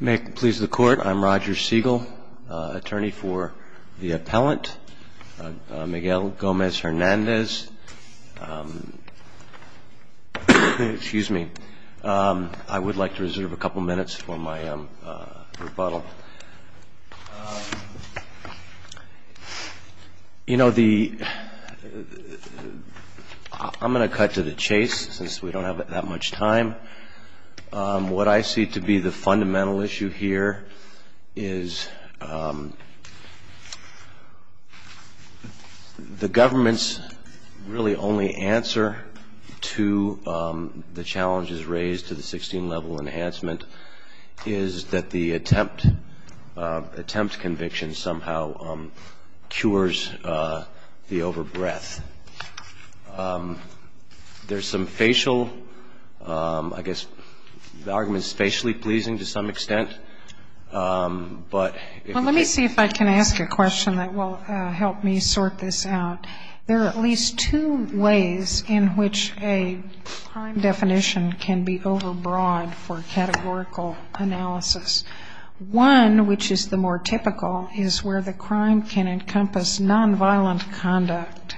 May it please the Court, I'm Roger Segal, attorney for the appellant, Miguel Gomez-Hernandez. I would like to reserve a couple minutes for my rebuttal. I'm going to cut to the chase since we don't have that much time. What I see to be the fundamental issue here is the government's really only answer to the challenges raised to the 16-level enhancement is that the attempt conviction somehow cures the over-breath. There's some fairly clear facial, I guess, the argument is facially pleasing to some extent, but... Well, let me see if I can ask a question that will help me sort this out. There are at least two ways in which a crime definition can be over-broad for categorical analysis. One, which is the more typical, is where the crime can encompass nonviolent conduct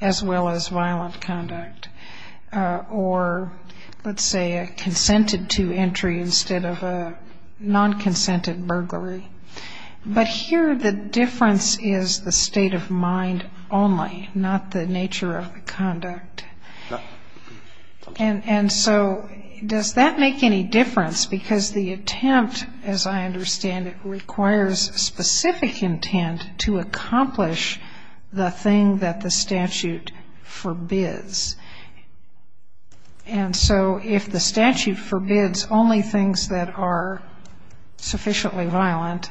as well as violent conduct, or let's say a consented to entry instead of a nonconsented burglary. But here the difference is the state of mind only, not the nature of the conduct. And so does that make any difference? Because the attempt, as I understand it, requires specific intent to accomplish the thing that the statute forbids. And so if the statute forbids only things that are sufficiently violent,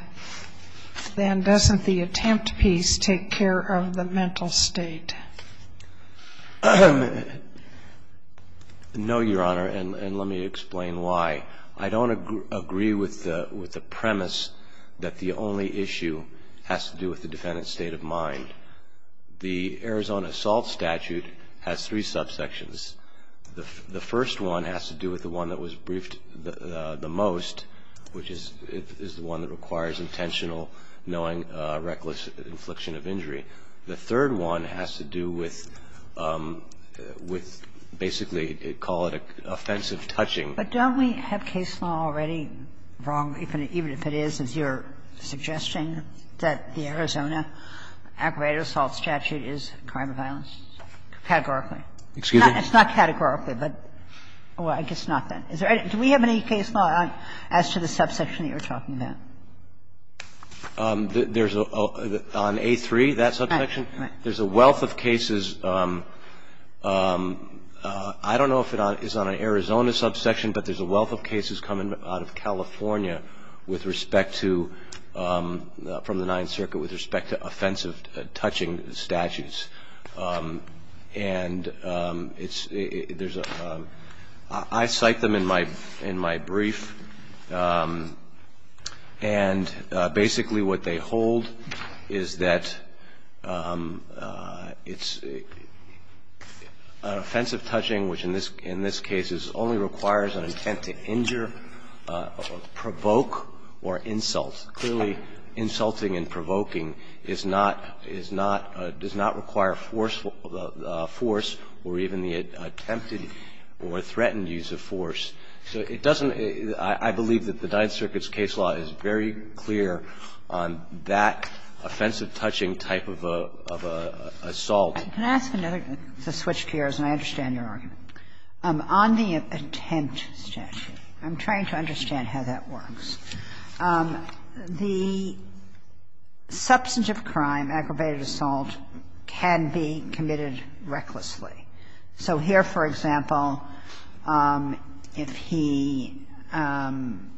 then doesn't the attempt piece take care of the mental state? No, Your Honor, and let me explain why. I don't agree with the premise that the only issue has to do with the defendant's state of mind. The Arizona assault statute has three subsections. The first one has to do with the one that was briefed the most, which is the one that requires intentional, knowing, reckless infliction of injury. The third one has to do with basically call it offensive touching. But don't we have case law already wrong, even if it is, as you're suggesting? That the Arizona aggravated assault statute is a crime of violence? Categorically. Excuse me? It's not categorically, but I guess not then. Do we have any case law as to the subsection that you're talking about? There's a – on A3, that subsection, there's a wealth of cases. I don't know if it is on an Arizona subsection, but there's a wealth of cases coming out of California with respect to – from the Ninth Circuit with respect to offensive touching statutes. And it's – there's a – I cite them in my – in my brief, and basically what they hold is that it's an offensive touching, which in this – in this case is only requires an intent to injure. Provoke or insult. Clearly, insulting and provoking is not – is not – does not require force or even the attempted or threatened use of force. So it doesn't – I believe that the Ninth Circuit's case law is very clear on that offensive touching type of assault. Can I ask another – to switch gears, and I understand your argument. On the attempt statute, I'm trying to understand how that works. The substantive crime, aggravated assault, can be committed recklessly. So here, for example, if he didn't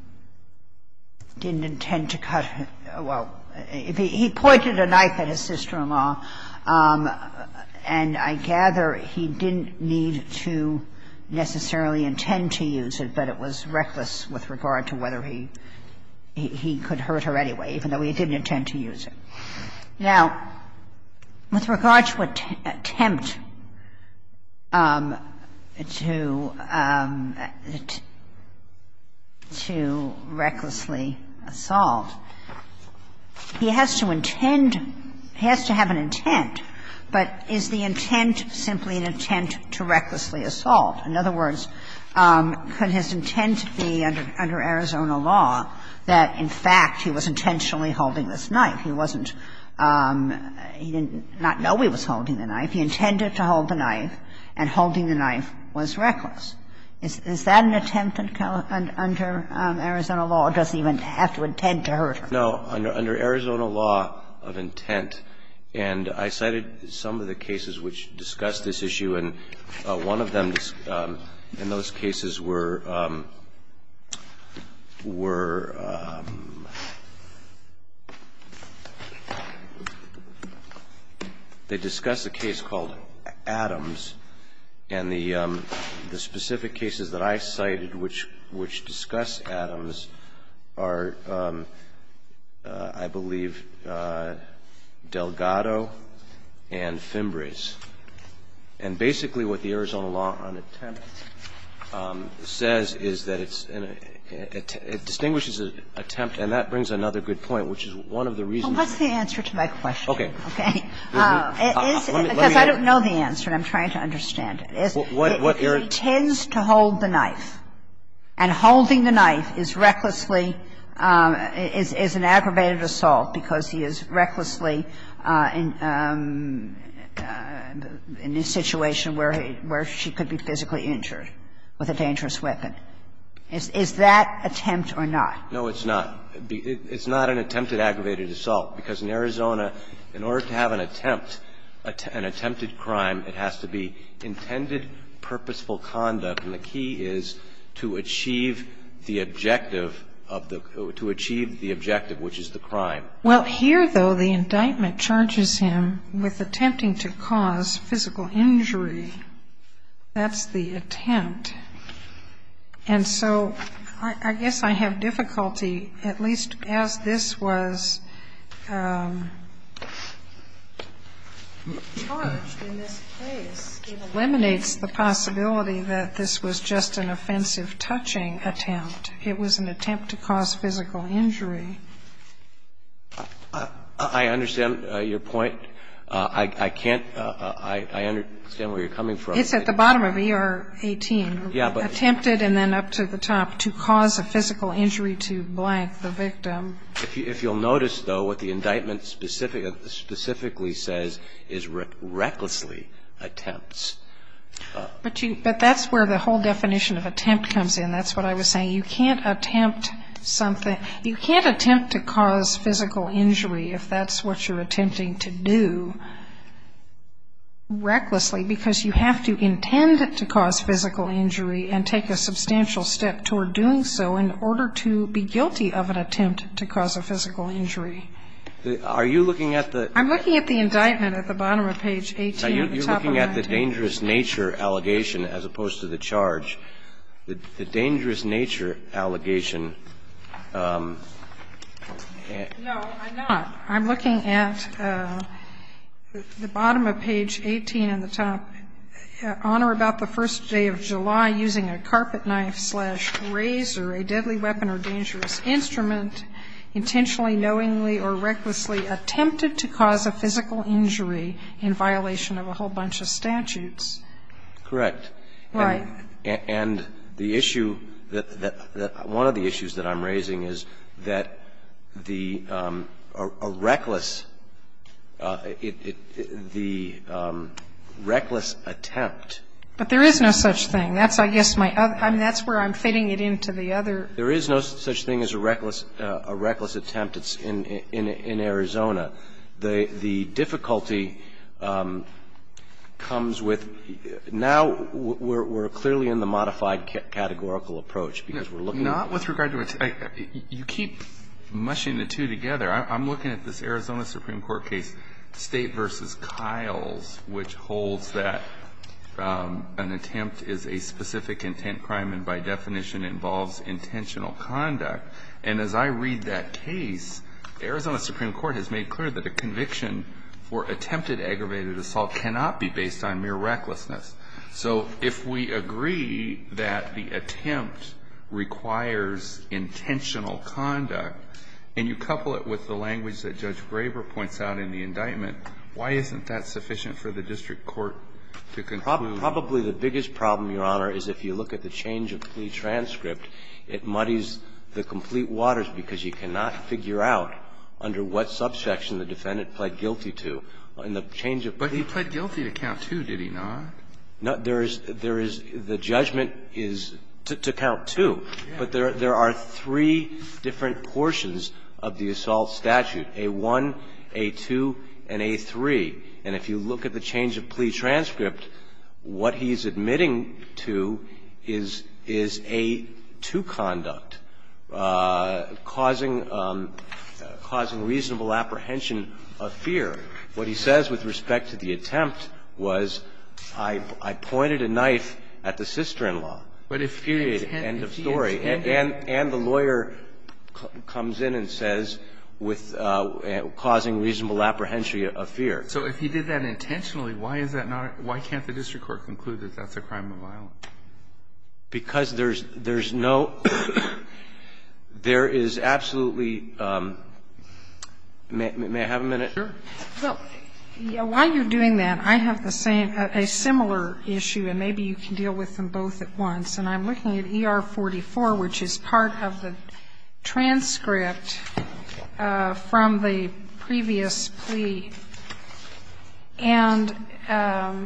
intend to cut – well, if he pointed a knife at his sister-in-law, and I gather he didn't need to necessarily intend to use it, but it was reckless with regard to whether he – he could hurt her anyway, even though he didn't intend to use it. Now, with regard to an attempt to – to recklessly assault, he has to intend – he has to have an intent, but is the intent simply an intent to recklessly assault? In other words, could his intent be under Arizona law that, in fact, he was intentionally holding this knife? He wasn't – he did not know he was holding the knife. He intended to hold the knife, and holding the knife was reckless. Is that an attempt under Arizona law? It doesn't even have to intend to hurt her. No. Under Arizona law of intent, and I cited some of the cases which discuss this issue, and one of them, in those cases, were – were – they discuss a case called Adams and the specific cases that I cited which – which discuss Adams are, I believe, Delgado and Fimbres. And basically, what the Arizona law on attempt says is that it's an – it distinguishes an attempt, and that brings another good point, which is one of the reasons. Well, what's the answer to my question? Okay. Okay. Let me ask you. Let me ask you. Because I don't know the answer, and I'm trying to understand it. What you're – He intends to hold the knife, and holding the knife is recklessly – is an aggravated assault because he is recklessly in the situation where he – where she could be physically injured with a dangerous weapon. Is that attempt or not? No, it's not. It's not an attempted aggravated assault because in Arizona, in order to have an attempt – an attempted crime, it has to be intended, purposeful conduct, and the key is to achieve the objective of the – to achieve the objective, which is the crime. Well, here, though, the indictment charges him with attempting to cause physical injury. That's the attempt. And so I guess I have difficulty, at least as this was charged in this case, it eliminates the possibility that this was just an offensive touching attempt. It was an attempt to cause physical injury. I understand your point. I can't – I understand where you're coming from. It's at the bottom of ER 18. Yeah, but – Attempted and then up to the top, to cause a physical injury to blank the victim. If you'll notice, though, what the indictment specifically says is recklessly attempts. But you – but that's where the whole definition of attempt comes in. That's what I was saying. You can't attempt something – you can't attempt to cause physical injury if that's what you're attempting to do recklessly, because you have to intend to cause physical injury and take a substantial step toward doing so in order to be guilty of an attempt to cause a physical injury. Are you looking at the – I'm looking at the indictment at the bottom of page 18, the top of that page. The dangerous nature allegation as opposed to the charge. The dangerous nature allegation. No, I'm not. I'm looking at the bottom of page 18 on the top. Honor about the first day of July using a carpet knife slash razor, a deadly weapon or dangerous instrument, intentionally, knowingly or recklessly attempted to cause a physical injury in violation of a whole bunch of statutes. Correct. Right. And the issue that – one of the issues that I'm raising is that the – a reckless – the reckless attempt. But there is no such thing. That's, I guess, my other – I mean, that's where I'm fitting it into the other. There is no such thing as a reckless attempt. It's in Arizona. The difficulty comes with – now we're clearly in the modified categorical approach because we're looking at the – Not with regard to – you keep mushing the two together. I'm looking at this Arizona Supreme Court case, State v. Kiles, which holds that an attempt is a specific intent crime and by definition involves intentional conduct. And as I read that case, Arizona Supreme Court has made clear that a conviction for attempted aggravated assault cannot be based on mere recklessness. So if we agree that the attempt requires intentional conduct and you couple it with the language that Judge Graber points out in the indictment, why isn't that sufficient for the district court to conclude? Probably the biggest problem, Your Honor, is if you look at the change of plea transcript, it muddies the complete waters because you cannot figure out under what subsection the defendant pled guilty to in the change of plea. But he pled guilty to count two, did he not? No. There is – there is – the judgment is to count two. Yes. But there are three different portions of the assault statute, A-1, A-2, and A-3. And if you look at the change of plea transcript, what he's admitting to is – is A-2 conduct, causing – causing reasonable apprehension of fear. What he says with respect to the attempt was, I pointed a knife at the sister-in-law. But if period, end of story. And the lawyer comes in and says with – causing reasonable apprehension of fear. So if he did that intentionally, why is that not – why can't the district court conclude that that's a crime of violence? Because there's – there's no – there is absolutely – may I have a minute? Sure. Well, while you're doing that, I have the same – a similar issue, and maybe you can deal with them both at once. And I'm looking at ER-44, which is part of the transcript from the previous plea. And it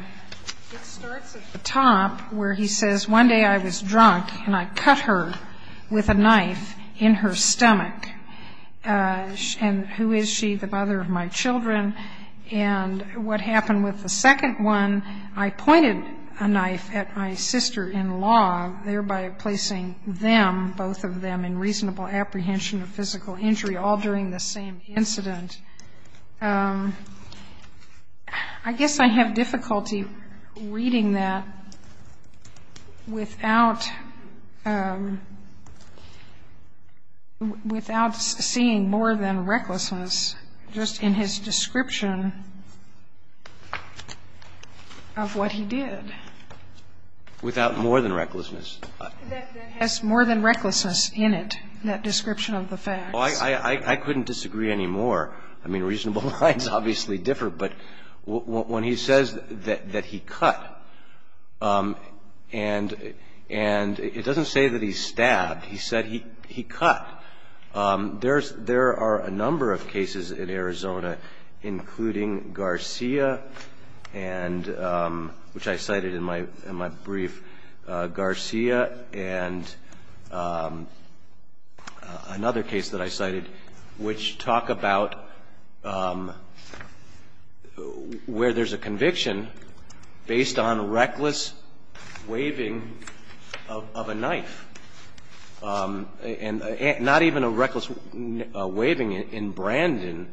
starts at the top, where he says, one day I was drunk, and I cut her with a knife in her stomach. And who is she? The mother of my children. And what happened with the second one, I pointed a knife at my sister-in-law, thereby placing them, both of them, in reasonable apprehension of physical injury, all during the same incident. I guess I have difficulty reading that without – without seeing more than his description of what he did. Without more than recklessness. That has more than recklessness in it, that description of the facts. Well, I couldn't disagree any more. I mean, reasonable lines obviously differ. But when he says that he cut, and it doesn't say that he stabbed. He said he cut. There are a number of cases in Arizona, including Garcia, which I cited in my brief, Garcia, and another case that I cited, which talk about where there's a conviction based on reckless waving of a knife. And not even a reckless waving. In Brandon,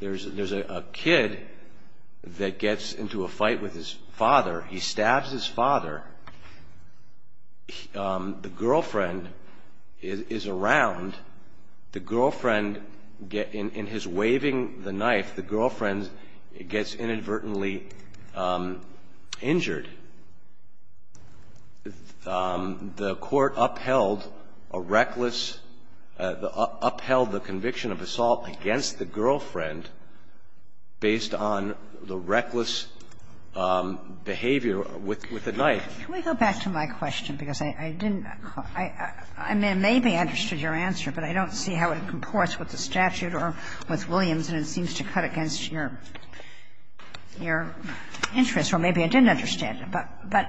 there's a kid that gets into a fight with his father. He stabs his father. The girlfriend is around. The girlfriend, in his waving the knife, the girlfriend gets inadvertently injured. The court upheld a reckless – upheld the conviction of assault against the girlfriend based on the reckless behavior with the knife. Can we go back to my question? Because I didn't – I may have understood your answer, but I don't see how it comports with the statute or with Williams, and it seems to cut against your interest. So maybe I didn't understand it. But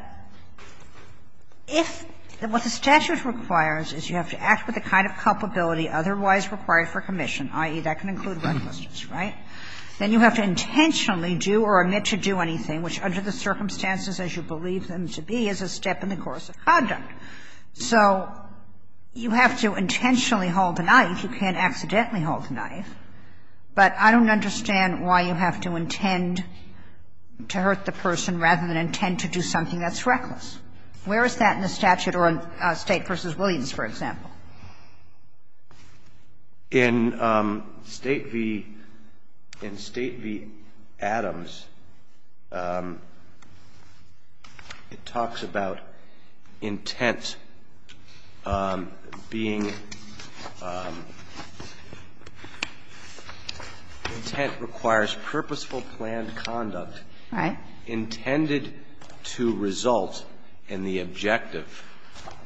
if what the statute requires is you have to act with the kind of culpability otherwise required for commission, i.e., that can include recklessness, right? Then you have to intentionally do or admit to do anything, which under the circumstances as you believe them to be, is a step in the course of conduct. So you have to intentionally hold the knife. You can't accidentally hold the knife. But I don't understand why you have to intend to hurt the person rather than intend to do something that's reckless. Where is that in the statute or in State v. Williams, for example? In State v. Adams, it talks about intent being – intent requires purposeful planned conduct intended to result in the objective.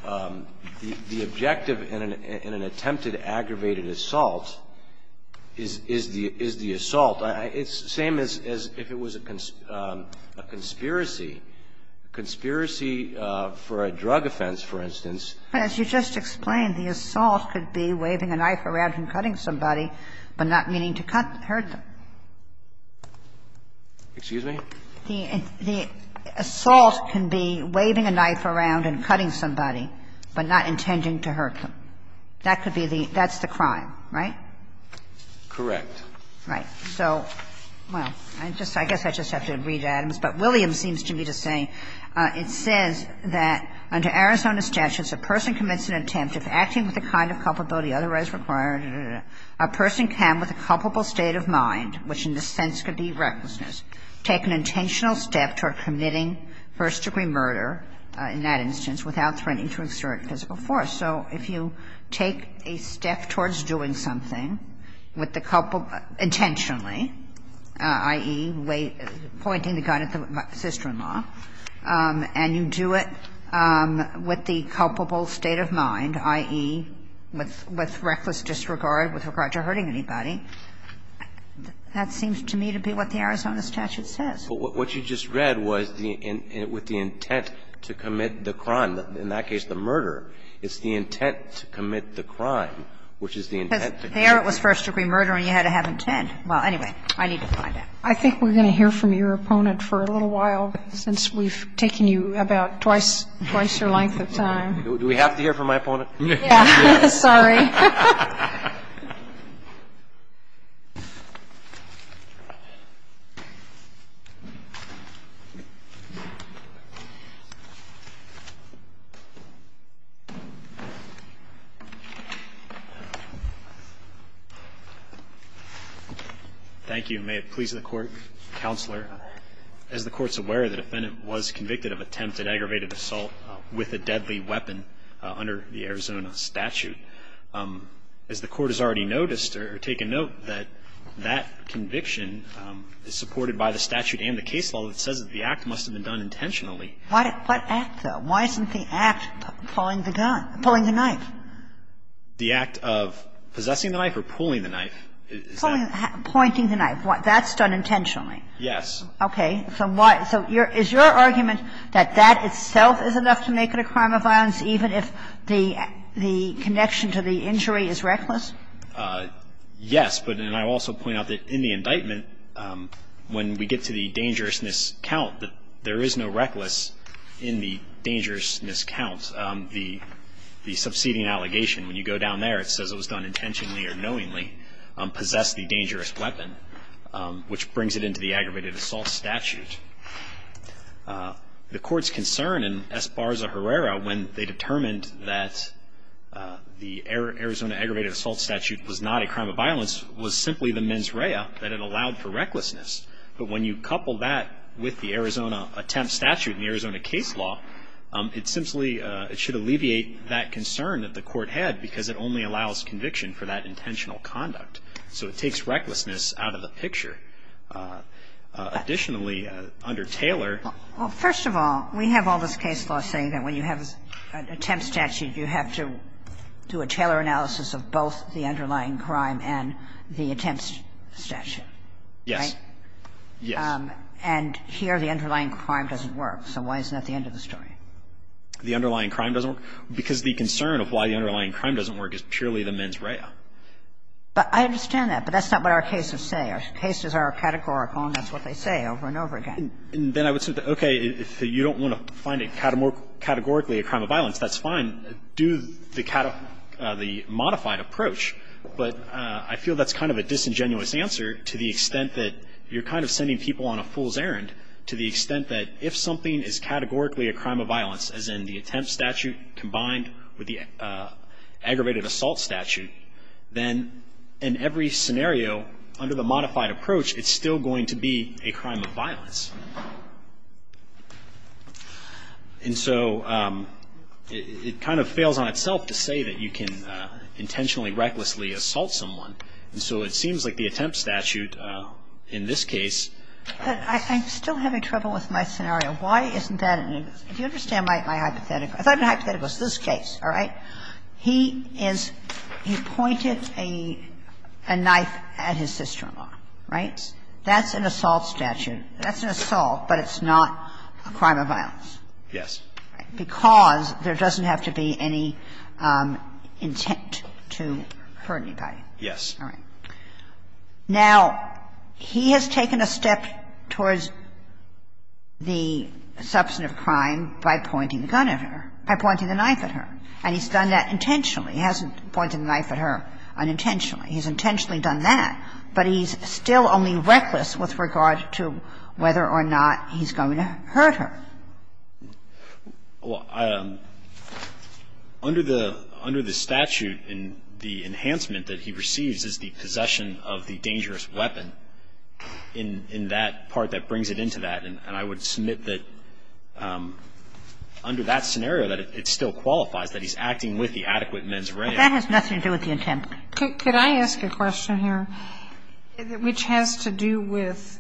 The objective in an attempted aggravated assault is the assault. It's the same as if it was a conspiracy. A conspiracy for a drug offense, for instance. As you just explained, the assault could be waving a knife around and cutting somebody, but not meaning to cut – hurt them. Excuse me? The assault can be waving a knife around and cutting somebody, but not intending to hurt them. That could be the – that's the crime, right? Correct. Right. So, well, I just – I guess I just have to read Adams. But Williams seems to me to say, it says that under Arizona statutes, a person commits an attempt of acting with the kind of culpability otherwise required A person can, with a culpable state of mind, which in this sense could be recklessness, take an intentional step toward committing first-degree murder, in that instance, without threatening to exert physical force. So if you take a step towards doing something with the – intentionally, i.e., pointing the gun at the sister-in-law, and you do it with the culpable state of mind, that seems to me to be what the Arizona statute says. Well, what you just read was the – with the intent to commit the crime. In that case, the murder. It's the intent to commit the crime, which is the intent to commit the crime. Because there it was first-degree murder, and you had to have intent. Well, anyway, I need to find out. I think we're going to hear from your opponent for a little while, since we've taken you about twice – twice your length of time. Do we have to hear from my opponent? Yes. Sorry. Thank you. And may it please the Court, Counselor, as the Court's aware, the defendant was convicted of attempted aggravated assault with a deadly weapon under the Arizona statute. As the Court has already noticed or taken note, that that conviction is supported by the statute and the case law that says that the act must have been done intentionally. What act, though? Why isn't the act pulling the gun – pulling the knife? The act of possessing the knife or pulling the knife. Pulling – pointing the knife. That's done intentionally. Yes. Okay. So is your argument that that itself is enough to make it a crime of violence, even if the connection to the injury is reckless? Yes. But then I also point out that in the indictment, when we get to the dangerousness count, that there is no reckless in the dangerousness count. The subseding allegation, when you go down there, it says it was done intentionally or knowingly, possessed the dangerous weapon, which brings it into the aggravated assault statute. The Court's concern in Esparza-Herrera, when they determined that the Arizona aggravated assault statute was not a crime of violence, was simply the mens rea, that it allowed for recklessness. But when you couple that with the Arizona attempt statute and the Arizona case law, it simply – it should alleviate that concern that the Court had because it only allows conviction for that intentional conduct. So it takes recklessness out of the picture. Additionally, under Taylor – Well, first of all, we have all this case law saying that when you have an attempt statute, you have to do a Taylor analysis of both the underlying crime and the attempt statute, right? Yes. Yes. And here the underlying crime doesn't work. So why isn't that the end of the story? The underlying crime doesn't work? Because the concern of why the underlying crime doesn't work is purely the mens rea. But I understand that. But that's not what our cases say. Our cases are categorical, and that's what they say over and over again. Then I would say, okay, if you don't want to find it categorically a crime of violence, that's fine. Do the modified approach. But I feel that's kind of a disingenuous answer to the extent that you're kind of sending people on a fool's errand to the extent that if something is categorically a crime of violence, as in the attempt statute combined with the aggravated assault statute, then in every scenario under the modified approach, it's still going to be a crime of violence. And so it kind of fails on itself to say that you can intentionally, recklessly assault someone. And so it seems like the attempt statute in this case ---- But I'm still having trouble with my scenario. Why isn't that an ---- if you understand my hypothetical. I thought my hypothetical was this case, all right? He is ---- he pointed a knife at his sister-in-law, right? That's an assault statute. That's an assault, but it's not a crime of violence. Yes. Because there doesn't have to be any intent to hurt anybody. Yes. All right. Now, he has taken a step towards the substantive crime by pointing the gun at her, by pointing the knife at her. And he's done that intentionally. He hasn't pointed the knife at her unintentionally. He's intentionally done that. But he's still only reckless with regard to whether or not he's going to hurt her. Well, under the statute, the enhancement that he receives is the possession of the dangerous weapon in that part that brings it into that. And I would submit that under that scenario, that it still qualifies, that he's acting with the adequate mens rea. But that has nothing to do with the intent. Could I ask a question here, which has to do with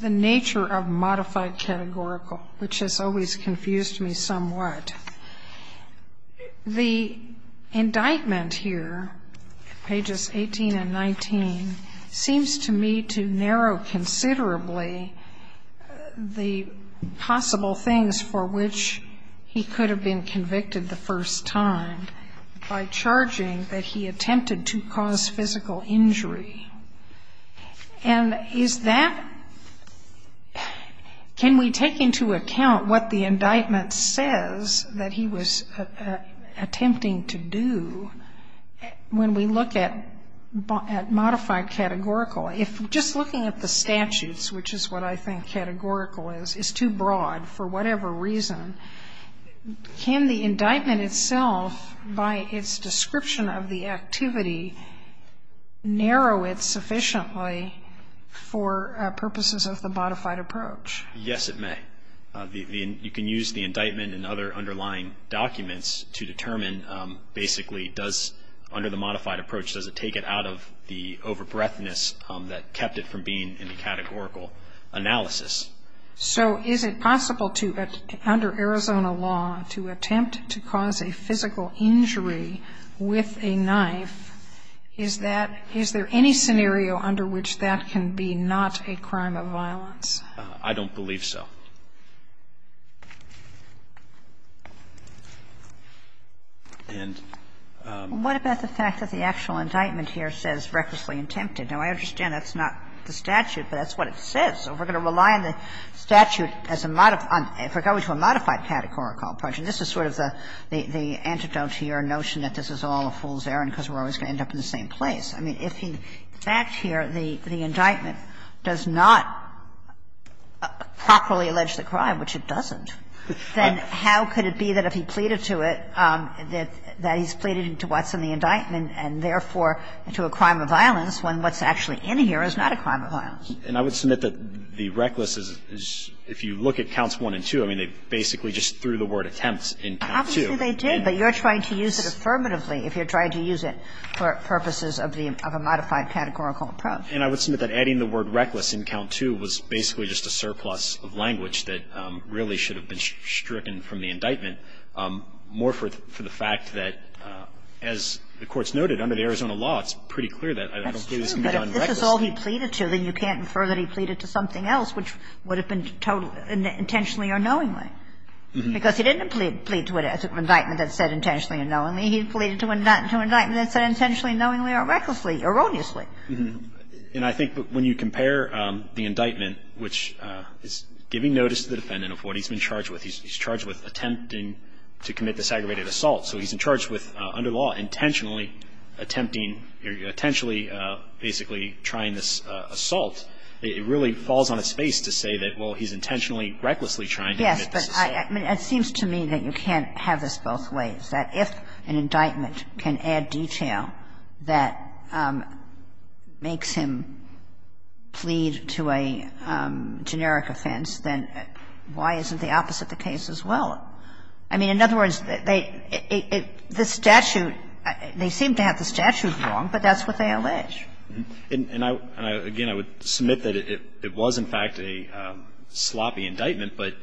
the nature of modified categorical, which has always confused me somewhat? The indictment here, pages 18 and 19, seems to me to narrow considerably the possible things for which he could have been convicted the first time by charging that he attempted to cause physical injury. And is that, can we take into account what the indictment says that he was attempting to do when we look at modified categorical? If just looking at the statutes, which is what I think categorical is, is too broad for whatever reason, can the indictment itself, by its description of the activity, narrow it sufficiently for purposes of the modified approach? Yes, it may. You can use the indictment and other underlying documents to determine basically does, under the modified approach, does it take it out of the over-breadthness that kept it from being in the categorical analysis? So is it possible to, under Arizona law, to attempt to cause a physical injury with a knife? Is that, is there any scenario under which that can be not a crime of violence? I don't believe so. And we're going to rely on the statute as a modified, if we're going to a modified categorical approach, and this is sort of the antidote to your notion that this is all a fool's errand because we're always going to end up in the same place. I mean, if in fact here the indictment does not properly illustrate the fact that it's not a crime of violence, then how could it be that if he pleaded to it, that he's pleaded to what's in the indictment and therefore to a crime of violence when what's actually in here is not a crime of violence? And I would submit that the reckless is, if you look at counts 1 and 2, I mean, they basically just threw the word attempts in count 2. Obviously they did, but you're trying to use it affirmatively if you're trying to use it for purposes of a modified categorical approach. And I would submit that adding the word reckless in count 2 was basically just a surplus of language that really should have been stricken from the indictment, more for the fact that, as the Court's noted, under the Arizona law, it's pretty clear that I don't believe this can be done recklessly. That's true, but if this is all he pleaded to, then you can't infer that he pleaded to something else, which would have been intentionally or knowingly, because he didn't plead to an indictment that said intentionally or knowingly. He pleaded to an indictment that said intentionally, knowingly, or recklessly, erroneously. And I think when you compare the indictment, which is giving notice to the defendant of what he's been charged with. He's charged with attempting to commit this aggravated assault. So he's in charge with, under law, intentionally attempting or intentionally basically trying this assault. It really falls on its face to say that, well, he's intentionally, recklessly trying to commit this assault. Yes, but it seems to me that you can't have this both ways. That if an indictment can add detail that makes him plead to a generic offense, then why isn't the opposite the case as well? I mean, in other words, they seem to have the statute wrong, but that's what they allege. And, again, I would submit that it was, in fact, a sloppy indictment, but,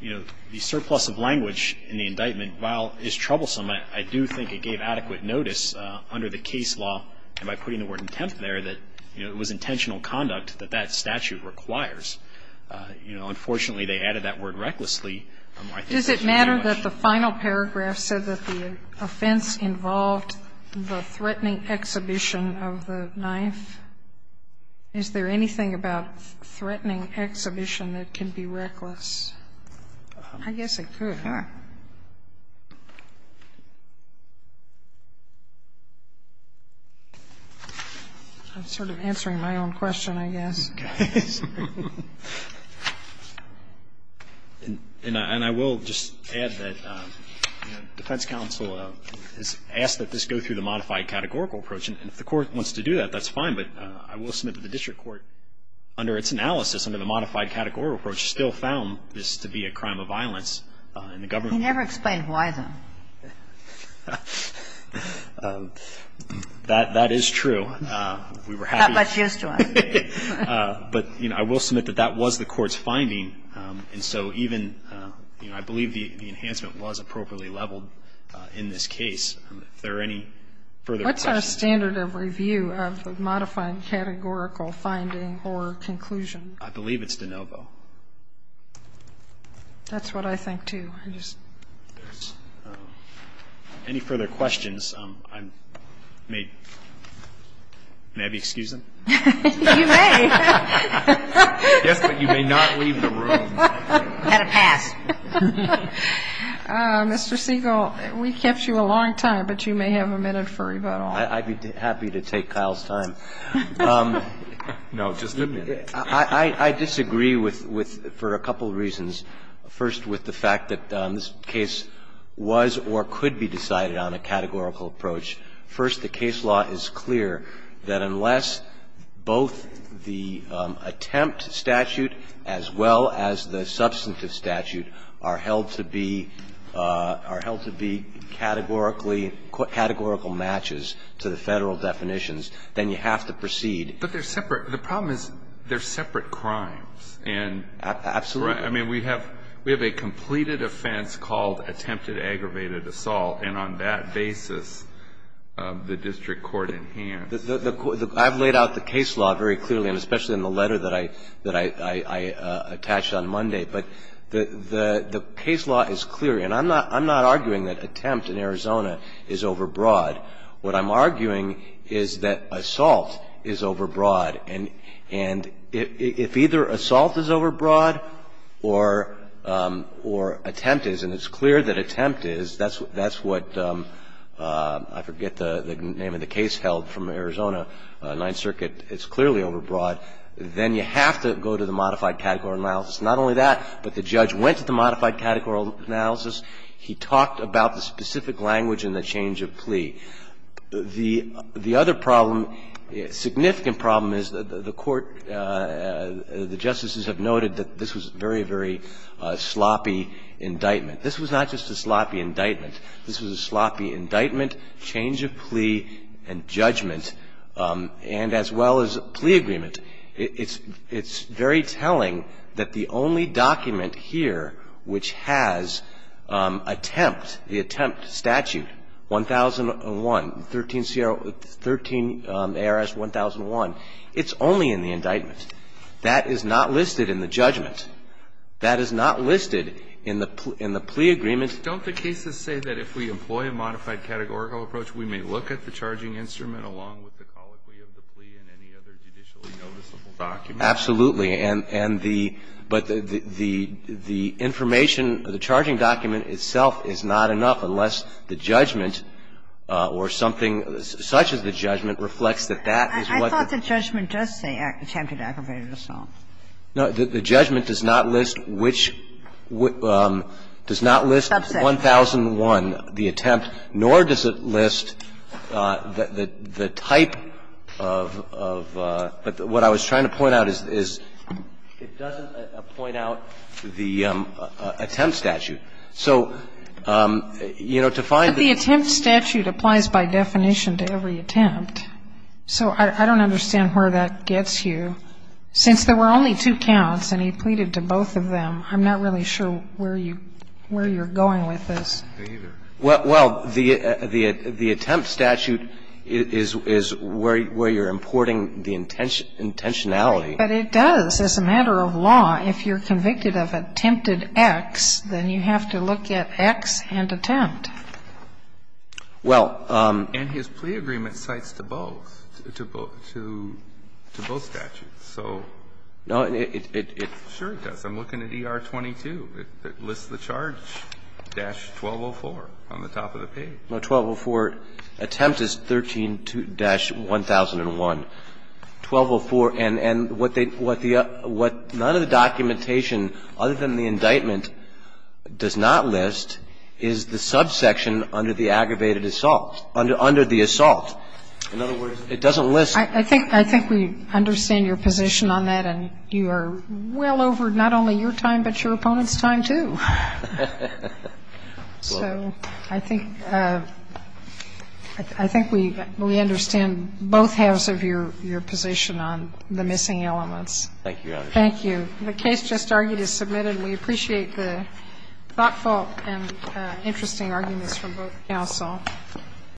you know, the surplus of language in the indictment, while it's troublesome, I do think it gave adequate notice under the case law, and by putting the word intent there, that it was intentional conduct that that statute requires. You know, unfortunately, they added that word recklessly. I think that's too much. Does it matter that the final paragraph said that the offense involved the threatening exhibition of the knife? Is there anything about threatening exhibition that can be reckless? I guess it could, huh? I'm sort of answering my own question, I guess. And I will just add that defense counsel has asked that this go through the modified categorical approach, and if the Court wants to do that, that's fine, but I will say that this analysis under the modified categorical approach still found this to be a crime of violence, and the government You never explained why, though. That is true. We were happy to say that, but, you know, I will submit that that was the Court's finding, and so even, you know, I believe the enhancement was appropriately leveled in this case. If there are any further questions. What's our standard of review of the modified categorical finding or conclusion? I believe it's de novo. That's what I think, too. Any further questions, I may, may I be excusing? You may. Yes, but you may not leave the room. Had to pass. Mr. Siegel, we kept you a long time, but you may have a minute for rebuttal. I'd be happy to take Kyle's time. No, just a minute. I disagree with, with, for a couple of reasons. First, with the fact that this case was or could be decided on a categorical approach. First, the case law is clear that unless both the attempt statute as well as the substantive statute are held to be, are held to be categorically, categorical matches to the Federal definitions, then you have to proceed. But they're separate. The problem is they're separate crimes. And. Absolutely. I mean, we have, we have a completed offense called attempted aggravated assault, and on that basis, the district court in hand. The, the, I've laid out the case law very clearly, and especially in the letter that I, that I, I attached on Monday. But the, the, the case law is clear. And I'm not, I'm not arguing that attempt in Arizona is overbroad. What I'm arguing is that assault is overbroad. And, and if, if either assault is overbroad or, or attempt is, and it's clear that attempt is, that's, that's what, I forget the, the name of the case held from Arizona, Ninth Circuit, it's clearly overbroad. Then you have to go to the modified categorical analysis. Not only that, but the judge went to the modified categorical analysis. He talked about the specific language in the change of plea. The, the other problem, significant problem is the, the court, the justices have noted that this was very, very sloppy indictment. This was not just a sloppy indictment. This was a sloppy indictment, change of plea, and judgment, and as well as plea agreement. It's, it's very telling that the only document here which has attempt, the attempt statute, 1001, 13 CR, 13 ARS 1001, it's only in the indictment. That is not listed in the judgment. That is not listed in the, in the plea agreement. Don't the cases say that if we employ a modified categorical approach, we may look at the charging instrument along with the colloquy of the plea and any other judicially noticeable document? Absolutely. And, and the, but the, the, the information, the charging document itself is not enough unless the judgment or something such as the judgment reflects that that is what the I thought the judgment does say attempted aggravated assault. No, the, the judgment does not list which, does not list 1001, the attempt, nor does it list the, the type of, of, but what I was trying to point out is, is it doesn't point out the attempt statute. So, you know, to find the But the attempt statute applies by definition to every attempt. So I, I don't understand where that gets you. Since there were only two counts and he pleaded to both of them, I'm not really sure where you, where you're going with this. Well, well, the, the, the attempt statute is, is where, where you're importing the intention, intentionality. But it does. As a matter of law, if you're convicted of attempted X, then you have to look at X and attempt. Well. And his plea agreement cites to both, to both, to, to both statutes. So. No, it, it, it. Sure, it does. I'm looking at ER-22. It lists the charge, dash 1204 on the top of the page. No, 1204 attempt is 13-1001. 1204 and, and what they, what the, what none of the documentation other than the indictment does not list is the subsection under the aggravated assault, under, under the assault. In other words, it doesn't list. I think, I think we understand your position on that. And you are well over not only your time, but your opponent's time, too. So I think, I think we, we understand both halves of your, your position on the missing elements. Thank you, Your Honor. Thank you. The case just argued is submitted. We appreciate the thoughtful and interesting arguments from both counsel. Thank you.